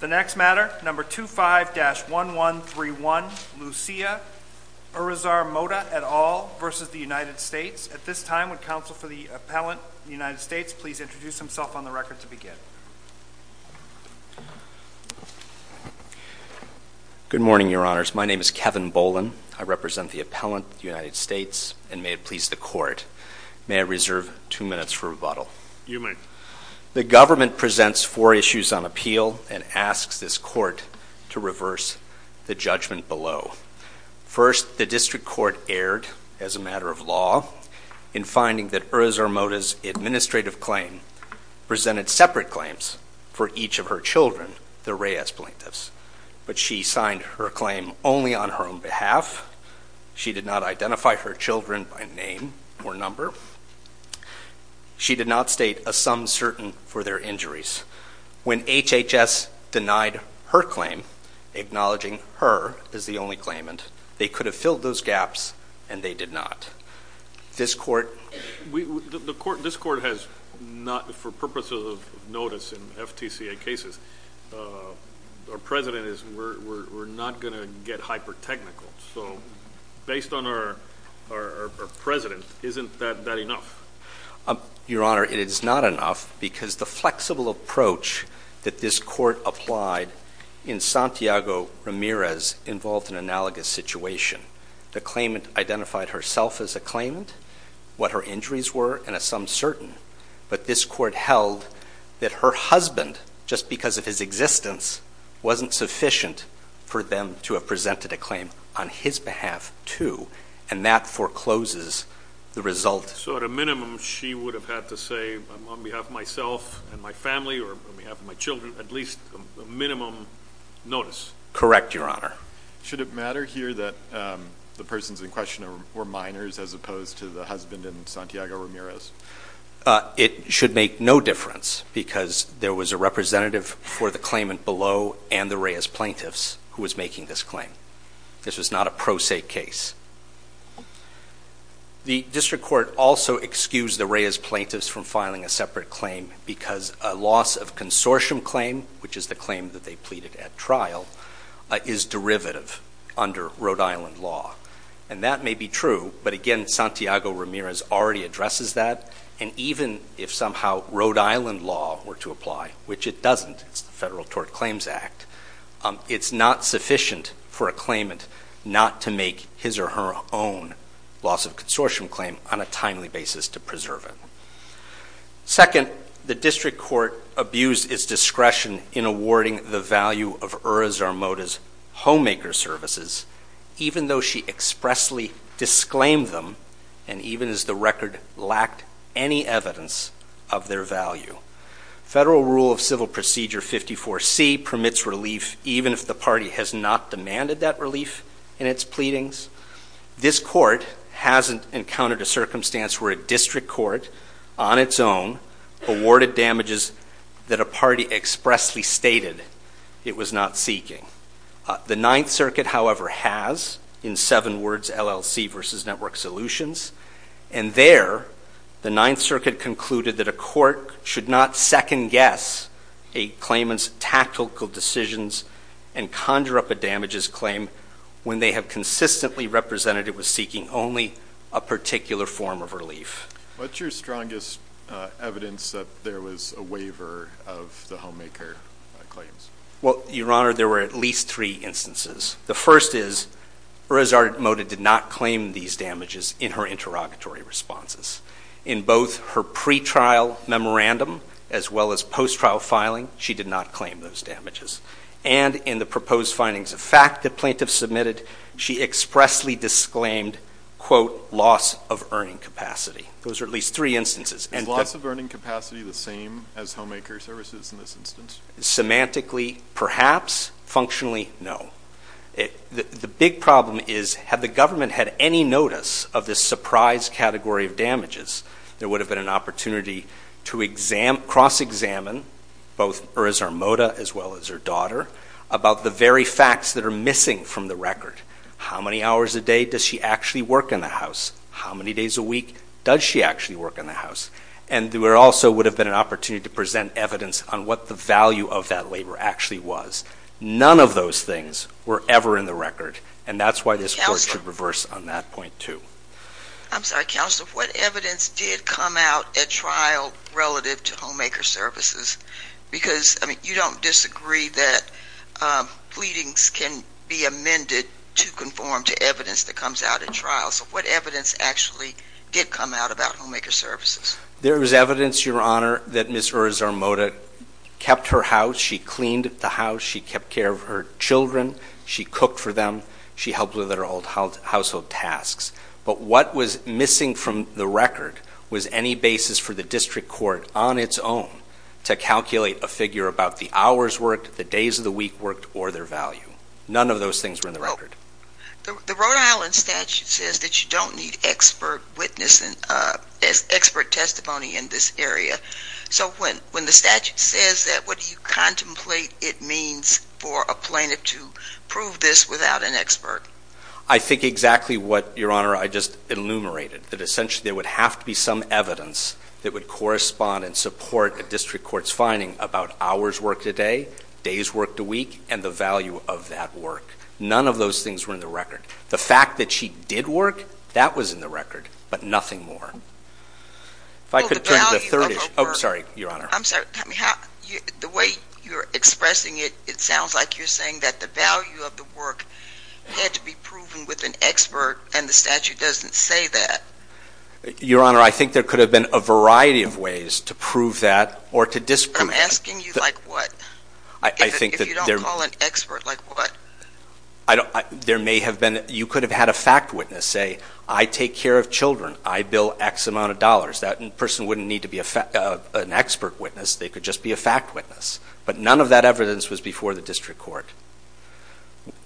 The next matter, No. 25-1131, Lucia Urizar-Mota et al. v. United States. At this time, would counsel for the Appellant, United States, please introduce himself on the record to begin. Good morning, Your Honors. My name is Kevin Bolin. I represent the Appellant, United States, and may it please the Court, may I reserve two minutes for rebuttal. You may. The government presents four issues on appeal and asks this Court to reverse the judgment below. First, the District Court erred, as a matter of law, in finding that Urizar-Mota's administrative claim presented separate claims for each of her children, the Reyes plaintiffs. But she signed her claim only on her own behalf. She did not identify her children by name or number. She did not state a sum certain for their injuries. When HHS denied her claim, acknowledging her as the only claimant, they could have filled those gaps, and they did not. This Court has not, for purposes of notice in FTCA cases, our President is not going to get hyper-technical. So, based on our President, isn't that enough? Your Honor, it is not enough because the flexible approach that this Court applied in Santiago Ramirez involved an analogous situation. The claimant identified herself as a claimant, what her injuries were, and a sum certain. But this Court held that her husband, just because of his existence, wasn't sufficient for them to have presented a claim on his behalf, too. And that forecloses the result. So, at a minimum, she would have had to say, on behalf of myself and my family, or on behalf of my children, at least a minimum notice. Correct, Your Honor. Should it matter here that the persons in question were minors as opposed to the husband in Santiago Ramirez? It should make no difference because there was a representative for the claimant below and the Reyes plaintiffs who was making this claim. This was not a pro se case. The District Court also excused the Reyes plaintiffs from filing a separate claim because a loss of consortium claim, which is the claim that they pleaded at trial, is derivative under Rhode Island law. And that may be true, but again, Santiago Ramirez already addresses that, and even if somehow Rhode Island law were to apply, which it doesn't, it's the Federal Tort Claims Act, it's not sufficient for a claimant not to make his or her own loss of consortium claim on a timely basis to preserve it. Second, the District Court abused its discretion in awarding the value of Ura Zarmoda's homemaker services, even though she expressly disclaimed them, and even as the record lacked any evidence of their value. Federal Rule of Civil Procedure 54C permits relief even if the party has not demanded that relief in its pleadings. This court hasn't encountered a circumstance where a district court, on its own, awarded damages that a party expressly stated it was not seeking. The Ninth Circuit, however, has, in seven words, LLC versus Network Solutions, and there the Ninth Circuit concluded that a court should not second guess a claimant's tactical decisions and conjure up a damages claim when they have consistently represented it was seeking only a particular form of relief. What's your strongest evidence that there was a waiver of the homemaker claims? Well, Your Honor, there were at least three instances. The first is Ura Zarmoda did not claim these damages in her interrogatory responses. In both her pretrial memorandum as well as post-trial filing, she did not claim those damages. And in the proposed findings of fact that plaintiffs submitted, she expressly disclaimed, quote, loss of earning capacity. Those are at least three instances. Is loss of earning capacity the same as homemaker services in this instance? Semantically, perhaps. Functionally, no. The big problem is had the government had any notice of this surprise category of damages, there would have been an opportunity to cross-examine both Ura Zarmoda as well as her daughter about the very facts that are missing from the record. How many hours a day does she actually work in the house? How many days a week does she actually work in the house? And there also would have been an opportunity to present evidence on what the value of that waiver actually was. None of those things were ever in the record, and that's why this court should reverse on that point too. I'm sorry, Counselor. What evidence did come out at trial relative to homemaker services? Because, I mean, you don't disagree that pleadings can be amended to conform to evidence that comes out at trial. So what evidence actually did come out about homemaker services? There was evidence, Your Honor, that Ms. Ura Zarmoda kept her house. She cleaned the house. She kept care of her children. She cooked for them. She helped with her household tasks. But what was missing from the record was any basis for the district court on its own to calculate a figure about the hours worked, the days of the week worked, or their value. None of those things were in the record. The Rhode Island statute says that you don't need expert testimony in this area. So when the statute says that, what do you contemplate it means for a plaintiff to prove this without an expert? I think exactly what, Your Honor, I just enumerated, that essentially there would have to be some evidence that would correspond and support a district court's finding about hours worked a day, days worked a week, and the value of that work. None of those things were in the record. The fact that she did work, that was in the record, but nothing more. Well, the value of her work. Oh, sorry, Your Honor. I'm sorry. The way you're expressing it, it sounds like you're saying that the value of the work had to be proven with an expert, and the statute doesn't say that. Your Honor, I think there could have been a variety of ways to prove that or to discriminate. I'm asking you like what? If you don't call an expert, like what? There may have been, you could have had a fact witness say, I take care of children, I bill X amount of dollars. That person wouldn't need to be an expert witness. They could just be a fact witness. But none of that evidence was before the district court.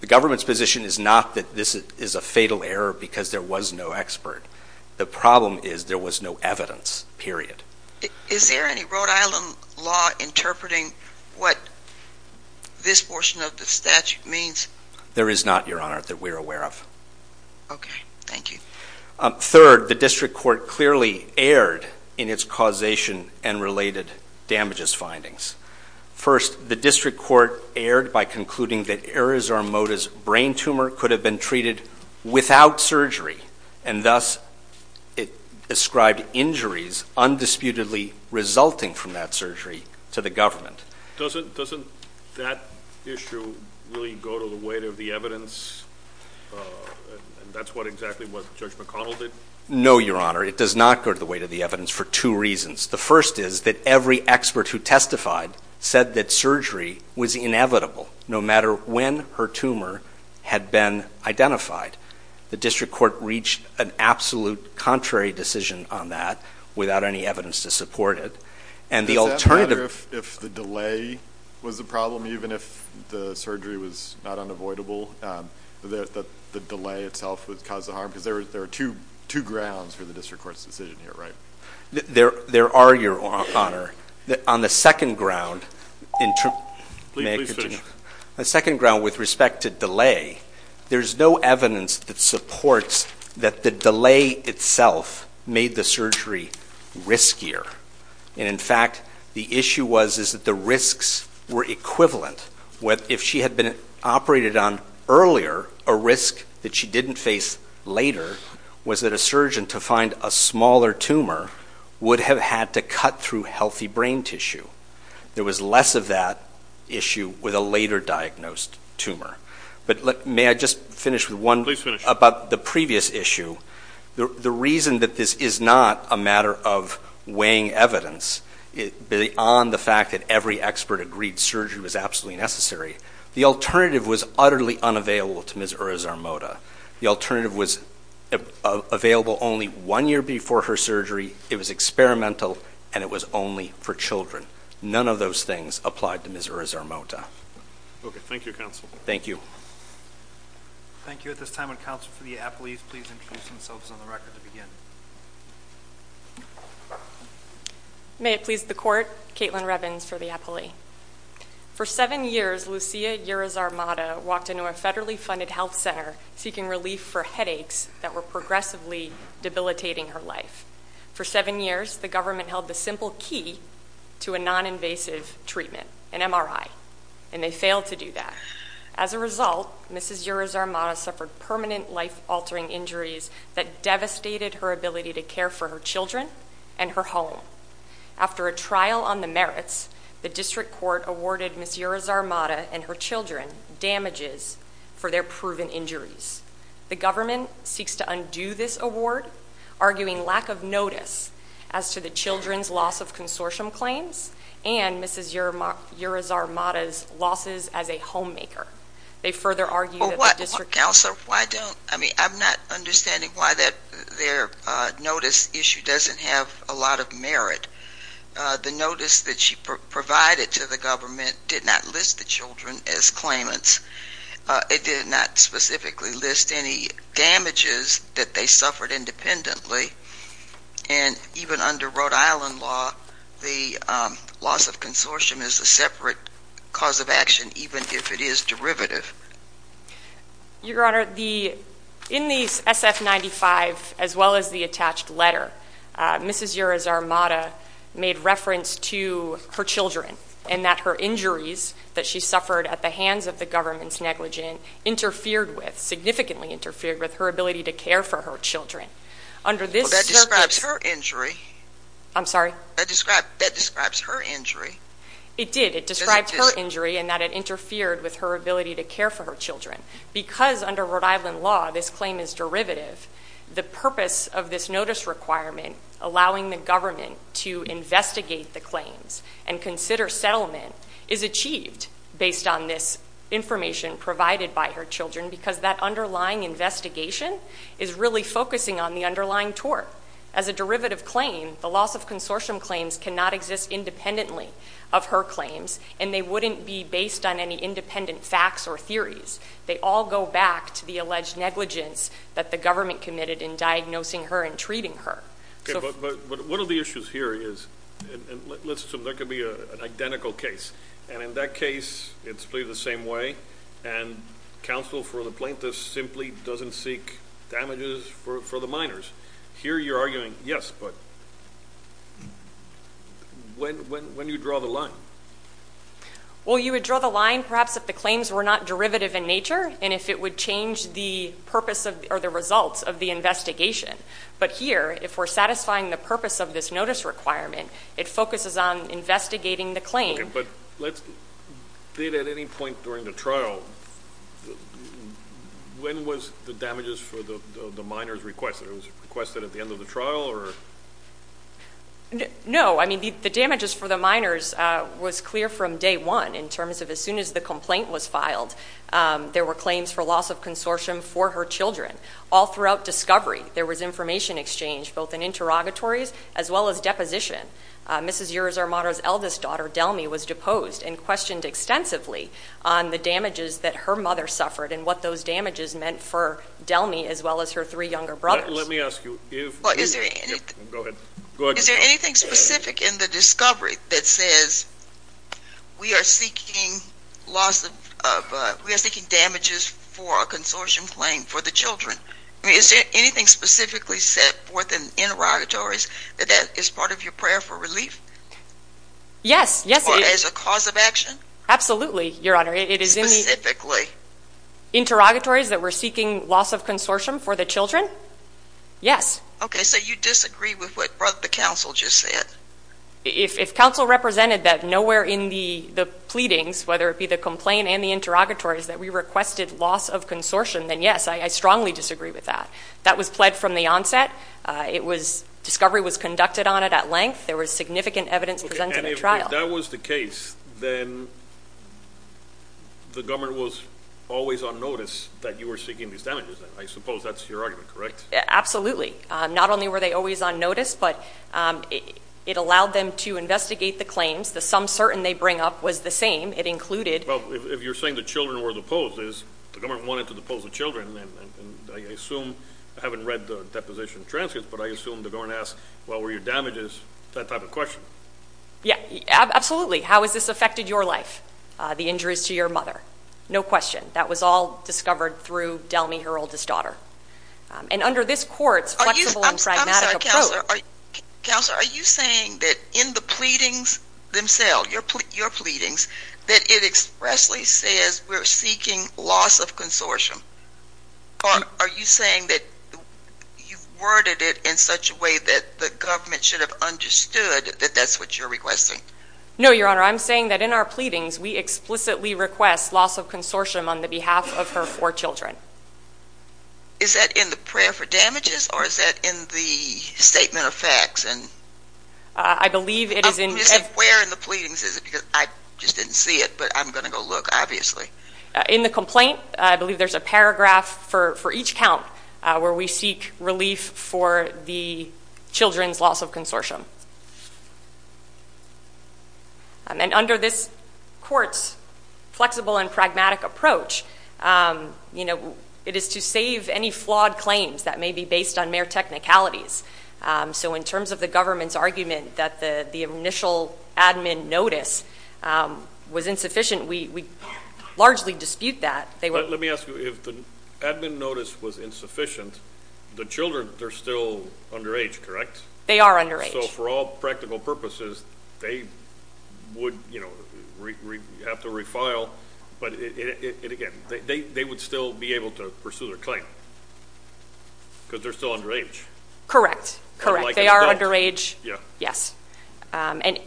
The government's position is not that this is a fatal error because there was no expert. The problem is there was no evidence, period. Is there any Rhode Island law interpreting what this portion of the statute means? There is not, Your Honor, that we're aware of. Okay, thank you. Third, the district court clearly erred in its causation and related damages findings. First, the district court erred by concluding that Arizona's brain tumor could have been treated without surgery, and thus it ascribed injuries undisputedly resulting from that surgery to the government. Doesn't that issue really go to the weight of the evidence, and that's what exactly what Judge McConnell did? No, Your Honor, it does not go to the weight of the evidence for two reasons. The first is that every expert who testified said that surgery was inevitable, no matter when her tumor had been identified. The district court reached an absolute contrary decision on that without any evidence to support it. Does that matter if the delay was the problem, even if the surgery was not unavoidable, that the delay itself would cause the harm? Because there are two grounds for the district court's decision here, right? There are, Your Honor. On the second ground, with respect to delay, there's no evidence that supports that the delay itself made the surgery riskier. And, in fact, the issue was that the risks were equivalent. If she had been operated on earlier, a risk that she didn't face later was that a surgeon, to find a smaller tumor, would have had to cut through healthy brain tissue. There was less of that issue with a later diagnosed tumor. But may I just finish with one? Please finish. About the previous issue, the reason that this is not a matter of weighing evidence, beyond the fact that every expert agreed surgery was absolutely necessary, the alternative was utterly unavailable to Ms. Urizar-Mota. The alternative was available only one year before her surgery. It was experimental, and it was only for children. None of those things applied to Ms. Urizar-Mota. Okay. Thank you, counsel. Thank you. Thank you. At this time, would counsel for the appellees please introduce themselves on the record to begin? May it please the Court, Kaitlin Revins for the appellee. For seven years, Lucia Urizar-Mota walked into a federally funded health center seeking relief for headaches that were progressively debilitating her life. For seven years, the government held the simple key to a non-invasive treatment, an MRI, and they failed to do that. As a result, Ms. Urizar-Mota suffered permanent life-altering injuries that devastated her ability to care for her children and her home. After a trial on the merits, the district court awarded Ms. Urizar-Mota and her children damages for their proven injuries. The government seeks to undo this award, arguing lack of notice as to the children's loss of consortium claims and Ms. Urizar-Mota's losses as a homemaker. They further argue that the district court- Counselor, I'm not understanding why their notice issue doesn't have a lot of merit. The notice that she provided to the government did not list the children as claimants. It did not specifically list any damages that they suffered independently, and even under Rhode Island law, the loss of consortium is a separate cause of action even if it is derivative. Your Honor, in the SF-95, as well as the attached letter, Ms. Urizar-Mota made reference to her children and that her injuries that she suffered at the hands of the government's negligent interfered with, significantly interfered with, her ability to care for her children. Well, that describes her injury. I'm sorry? That describes her injury. It did. It describes her injury and that it interfered with her ability to care for her children. Because under Rhode Island law, this claim is derivative, the purpose of this notice requirement, allowing the government to investigate the claims and consider settlement, is achieved based on this information provided by her children because that underlying investigation is really focusing on the underlying tort. As a derivative claim, the loss of consortium claims cannot exist independently of her claims, and they wouldn't be based on any independent facts or theories. They all go back to the alleged negligence that the government committed in diagnosing her and treating her. Okay, but one of the issues here is, and let's assume there could be an identical case, and in that case, it's played the same way, and counsel for the plaintiff simply doesn't seek damages for the minors. Here you're arguing, yes, but when do you draw the line? Well, you would draw the line perhaps if the claims were not derivative in nature and if it would change the purpose or the results of the investigation. But here, if we're satisfying the purpose of this notice requirement, it focuses on investigating the claim. Okay, but did at any point during the trial, when was the damages for the minors requested? Was it requested at the end of the trial or? No. I mean, the damages for the minors was clear from day one in terms of as soon as the complaint was filed. There were claims for loss of consortium for her children. All throughout discovery, there was information exchange, both in interrogatories as well as deposition. Mrs. Urizar-Mara's eldest daughter, Delmy, was deposed and questioned extensively on the damages that her mother suffered and what those damages meant for Delmy as well as her three younger brothers. Let me ask you, is there anything specific in the discovery that says, we are seeking damages for a consortium claim for the children? Is there anything specifically set forth in interrogatories that is part of your prayer for relief? Yes. Or as a cause of action? Absolutely, Your Honor. Specifically? Interrogatories that were seeking loss of consortium for the children? Yes. Okay, so you disagree with what the counsel just said? If counsel represented that nowhere in the pleadings, whether it be the complaint and the interrogatories, that we requested loss of consortium, then yes, I strongly disagree with that. That was pled from the onset. Discovery was conducted on it at length. There was significant evidence presented at trial. And if that was the case, then the government was always on notice that you were seeking these damages. I suppose that's your argument, correct? Absolutely. Not only were they always on notice, but it allowed them to investigate the claims. The sum certain they bring up was the same. It included. Well, if you're saying the children were deposed, the government wanted to depose the children. And I assume, I haven't read the deposition transcripts, but I assume the government asked what were your damages, that type of question. Yeah, absolutely. How has this affected your life, the injuries to your mother? No question. That was all discovered through Delmy, her oldest daughter. And under this court's flexible and pragmatic approach. I'm sorry, Counselor. Counselor, are you saying that in the pleadings themselves, your pleadings, that it expressly says we're seeking loss of consortium? Or are you saying that you've worded it in such a way that the government should have understood that that's what you're requesting? No, Your Honor, I'm saying that in our pleadings, we explicitly request loss of consortium on the behalf of her four children. Is that in the prayer for damages, or is that in the statement of facts? I believe it is in. Where in the pleadings is it? Because I just didn't see it, but I'm going to go look, obviously. In the complaint, I believe there's a paragraph for each count where we seek relief for the children's loss of consortium. And under this court's flexible and pragmatic approach, it is to save any flawed claims that may be based on mere technicalities. So in terms of the government's argument that the initial admin notice was insufficient, we largely dispute that. Let me ask you, if the admin notice was insufficient, the children, they're still underage, correct? They are underage. So for all practical purposes, they would have to refile. But, again, they would still be able to pursue their claim because they're still underage. Correct, correct. They are underage, yes. And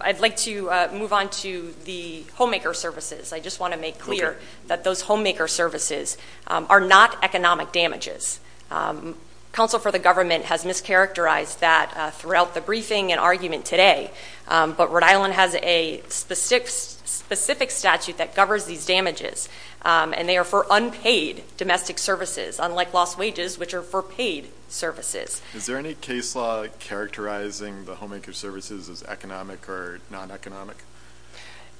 I'd like to move on to the homemaker services. I just want to make clear that those homemaker services are not economic damages. Counsel for the government has mischaracterized that throughout the briefing and argument today. But Rhode Island has a specific statute that governs these damages, and they are for unpaid domestic services, unlike lost wages, which are for paid services. Is there any case law characterizing the homemaker services as economic or non-economic?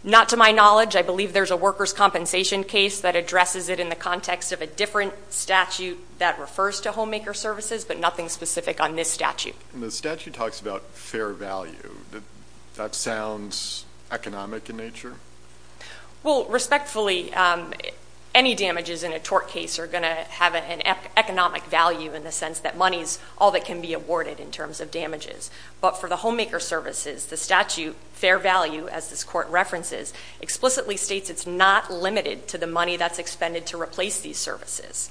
Not to my knowledge. I believe there's a workers' compensation case that addresses it in the context of a different statute that refers to homemaker services, but nothing specific on this statute. And the statute talks about fair value. That sounds economic in nature? Well, respectfully, any damages in a tort case are going to have an economic value in the sense that money is all that can be awarded in terms of damages. But for the homemaker services, the statute, fair value, as this court references, explicitly states it's not limited to the money that's expended to replace these services,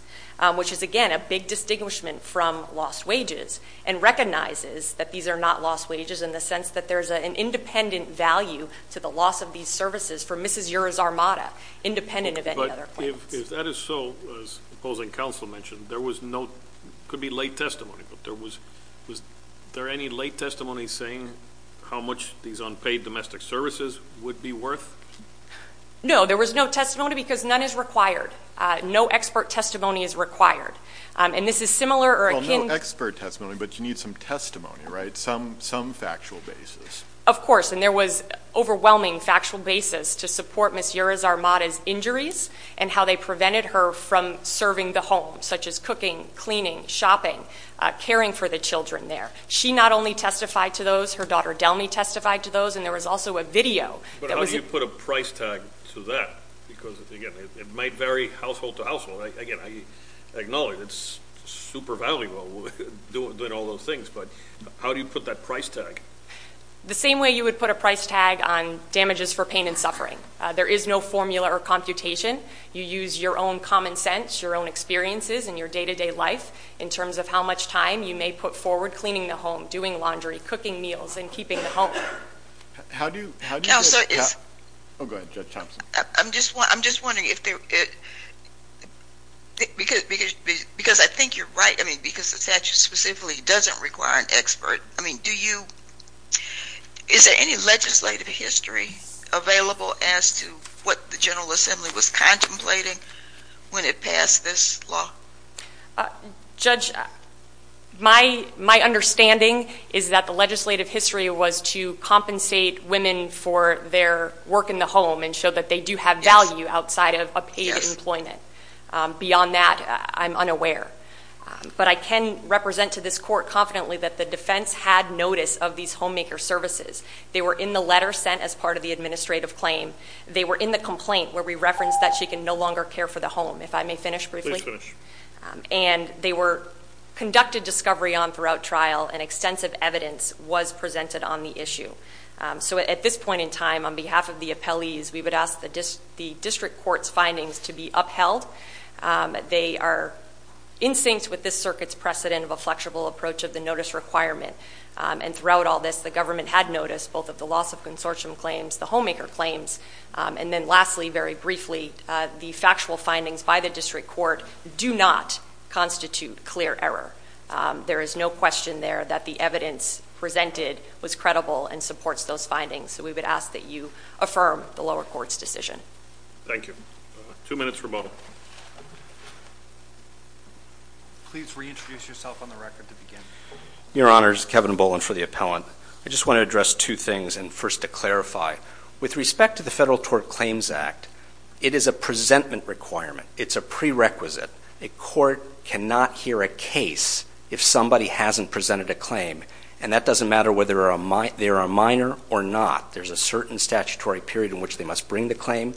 which is, again, a big distinguishment from lost wages, and recognizes that these are not lost wages in the sense that there's an independent value to the loss of these services for Mrs. Yura's armada, independent of any other claims. But if that is so, as opposing counsel mentioned, there was no, it could be late testimony, but was there any late testimony saying how much these unpaid domestic services would be worth? No. There was no testimony because none is required. No expert testimony is required. And this is similar or akin to- Well, no expert testimony, but you need some testimony, right? Some factual basis. Of course. And there was overwhelming factual basis to support Mrs. Yura's armada's injuries and how they prevented her from serving the home, such as cooking, cleaning, shopping, caring for the children there. She not only testified to those, her daughter Delmy testified to those, and there was also a video that was- But how do you put a price tag to that? Because, again, it might vary household to household. Again, I acknowledge it's super valuable doing all those things, but how do you put that price tag? The same way you would put a price tag on damages for pain and suffering. There is no formula or computation. You use your own common sense, your own experiences, and your day-to-day life in terms of how much time you may put forward cleaning the home, doing laundry, cooking meals, and keeping the home. How do you- Oh, go ahead, Judge Thompson. I'm just wondering if there- Because I think you're right, I mean, because the statute specifically doesn't require an expert. I mean, do you- is there any legislative history available as to what the General Assembly was contemplating when it passed this law? Judge, my understanding is that the legislative history was to compensate women for their work in the home and show that they do have value outside of a paid employment. Beyond that, I'm unaware. But I can represent to this court confidently that the defense had notice of these homemaker services. They were in the letter sent as part of the administrative claim. They were in the complaint where we referenced that she can no longer care for the home. If I may finish briefly? And they were conducted discovery on throughout trial, and extensive evidence was presented on the issue. So at this point in time, on behalf of the appellees, we would ask the district court's findings to be upheld. They are in sync with this circuit's precedent of a flexible approach of the notice requirement. And throughout all this, the government had noticed both of the loss of consortium claims, the homemaker claims, and then lastly, very briefly, the factual findings by the district court do not constitute clear error. There is no question there that the evidence presented was credible and supports those findings. So we would ask that you affirm the lower court's decision. Thank you. Two minutes remote. Please reintroduce yourself on the record to begin. Your Honor, this is Kevin Boland for the appellant. I just want to address two things, and first to clarify. With respect to the Federal Tort Claims Act, it is a presentment requirement. It's a prerequisite. A court cannot hear a case if somebody hasn't presented a claim. And that doesn't matter whether they are a minor or not. There's a certain statutory period in which they must bring the claim.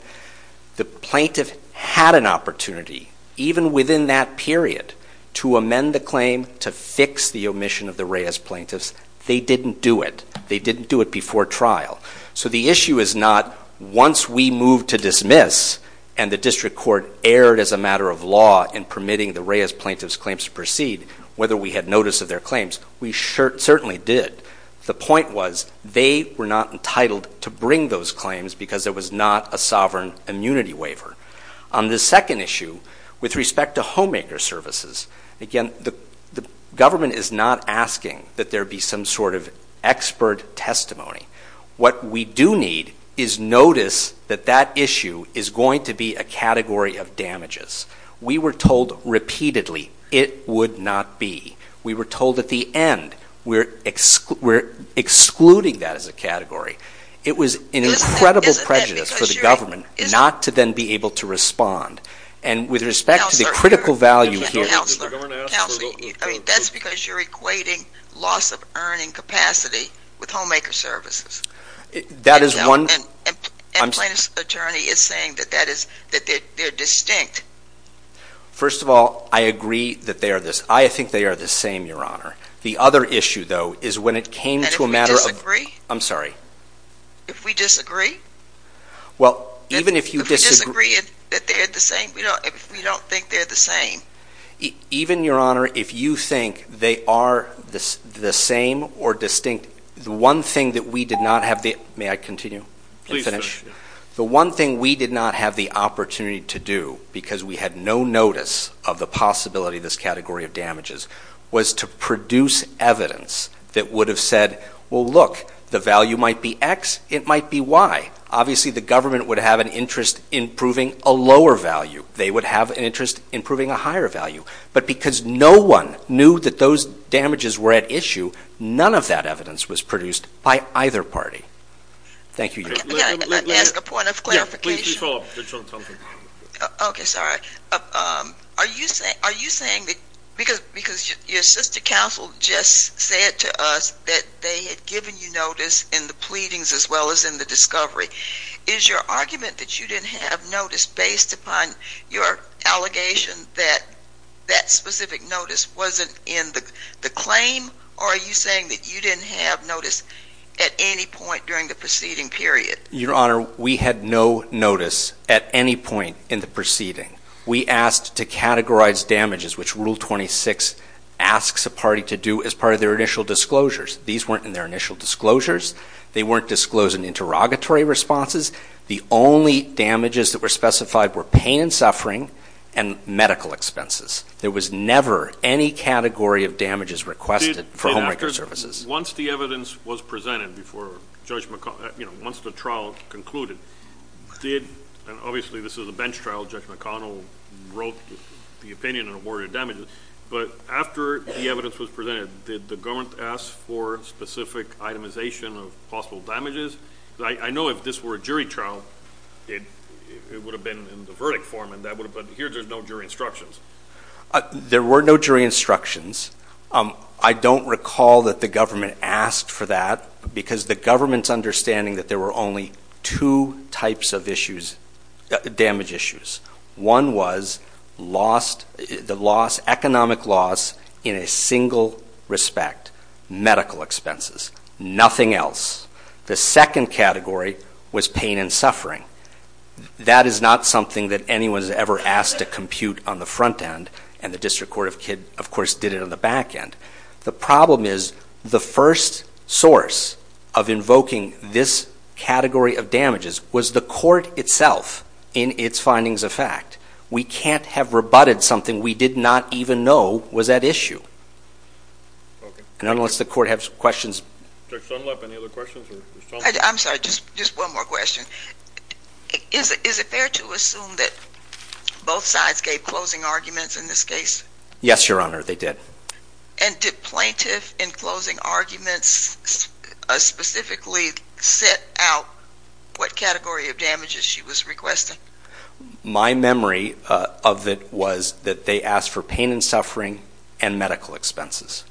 The plaintiff had an opportunity, even within that period, to amend the claim to fix the omission of the Reyes plaintiffs. They didn't do it. They didn't do it before trial. So the issue is not once we moved to dismiss and the district court erred as a matter of law in permitting the Reyes plaintiffs' claims to proceed, whether we had notice of their claims. We certainly did. The point was they were not entitled to bring those claims because there was not a sovereign immunity waiver. On the second issue, with respect to homemaker services, again, the government is not asking that there be some sort of expert testimony. What we do need is notice that that issue is going to be a category of damages. We were told repeatedly it would not be. We were told at the end we're excluding that as a category. It was an incredible prejudice for the government not to then be able to respond. And with respect to the critical value here. Counselor, that's because you're equating loss of earning capacity with homemaker services. And plaintiff's attorney is saying that they're distinct. First of all, I agree that they are this. I think they are the same, Your Honor. The other issue, though, is when it came to a matter of... I'm sorry? If we disagree? Well, even if you disagree... If we disagree that they're the same, we don't think they're the same. Even, Your Honor, if you think they are the same or distinct, the one thing that we did not have the... May I continue and finish? Please finish. The one thing we did not have the opportunity to do because we had no notice of the possibility of this category of damages was to produce evidence that would have said, well, look, the value might be X, it might be Y. Obviously, the government would have an interest in proving a lower value. They would have an interest in proving a higher value. But because no one knew that those damages were at issue, none of that evidence was produced by either party. Thank you, Your Honor. May I ask a point of clarification? Please follow up. Okay, sorry. Are you saying that because your assistant counsel just said to us that they had given you notice in the pleadings as well as in the discovery, is your argument that you didn't have notice based upon your allegation that that specific notice wasn't in the claim, or are you saying that you didn't have notice at any point during the proceeding period? Your Honor, we had no notice at any point in the proceeding. We asked to categorize damages, which Rule 26 asks a party to do as part of their initial disclosures. These weren't in their initial disclosures. They weren't disclosed in interrogatory responses. The only damages that were specified were pain and suffering and medical expenses. There was never any category of damages requested for homemaker services. Once the evidence was presented before Judge McConnell, you know, once the trial concluded, did, and obviously this is a bench trial, Judge McConnell wrote the opinion and awarded damages, but after the evidence was presented, did the government ask for specific itemization of possible damages? I know if this were a jury trial it would have been in the verdict form, but here there's no jury instructions. There were no jury instructions. I don't recall that the government asked for that because the government's understanding that there were only two types of issues, damage issues. One was lost, the loss, economic loss in a single respect, medical expenses, nothing else. The second category was pain and suffering. That is not something that anyone has ever asked to compute on the front end, and the District Court of Kidd, of course, did it on the back end. The problem is the first source of invoking this category of damages was the court itself in its findings of fact. We can't have rebutted something we did not even know was at issue. And unless the court has questions. Judge Stoltenlep, any other questions? I'm sorry, just one more question. Is it fair to assume that both sides gave closing arguments in this case? Yes, Your Honor, they did. And did plaintiff in closing arguments specifically set out what category of damages she was requesting? My memory of it was that they asked for pain and suffering and medical expenses.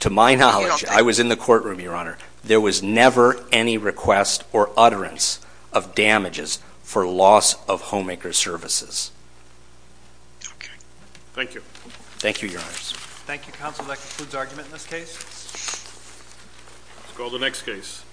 To my knowledge, I was in the courtroom, Your Honor. There was never any request or utterance of damages for loss of homemaker services. Thank you. Thank you, Your Honor. Thank you, Counsel. That concludes argument in this case. Let's call the next case.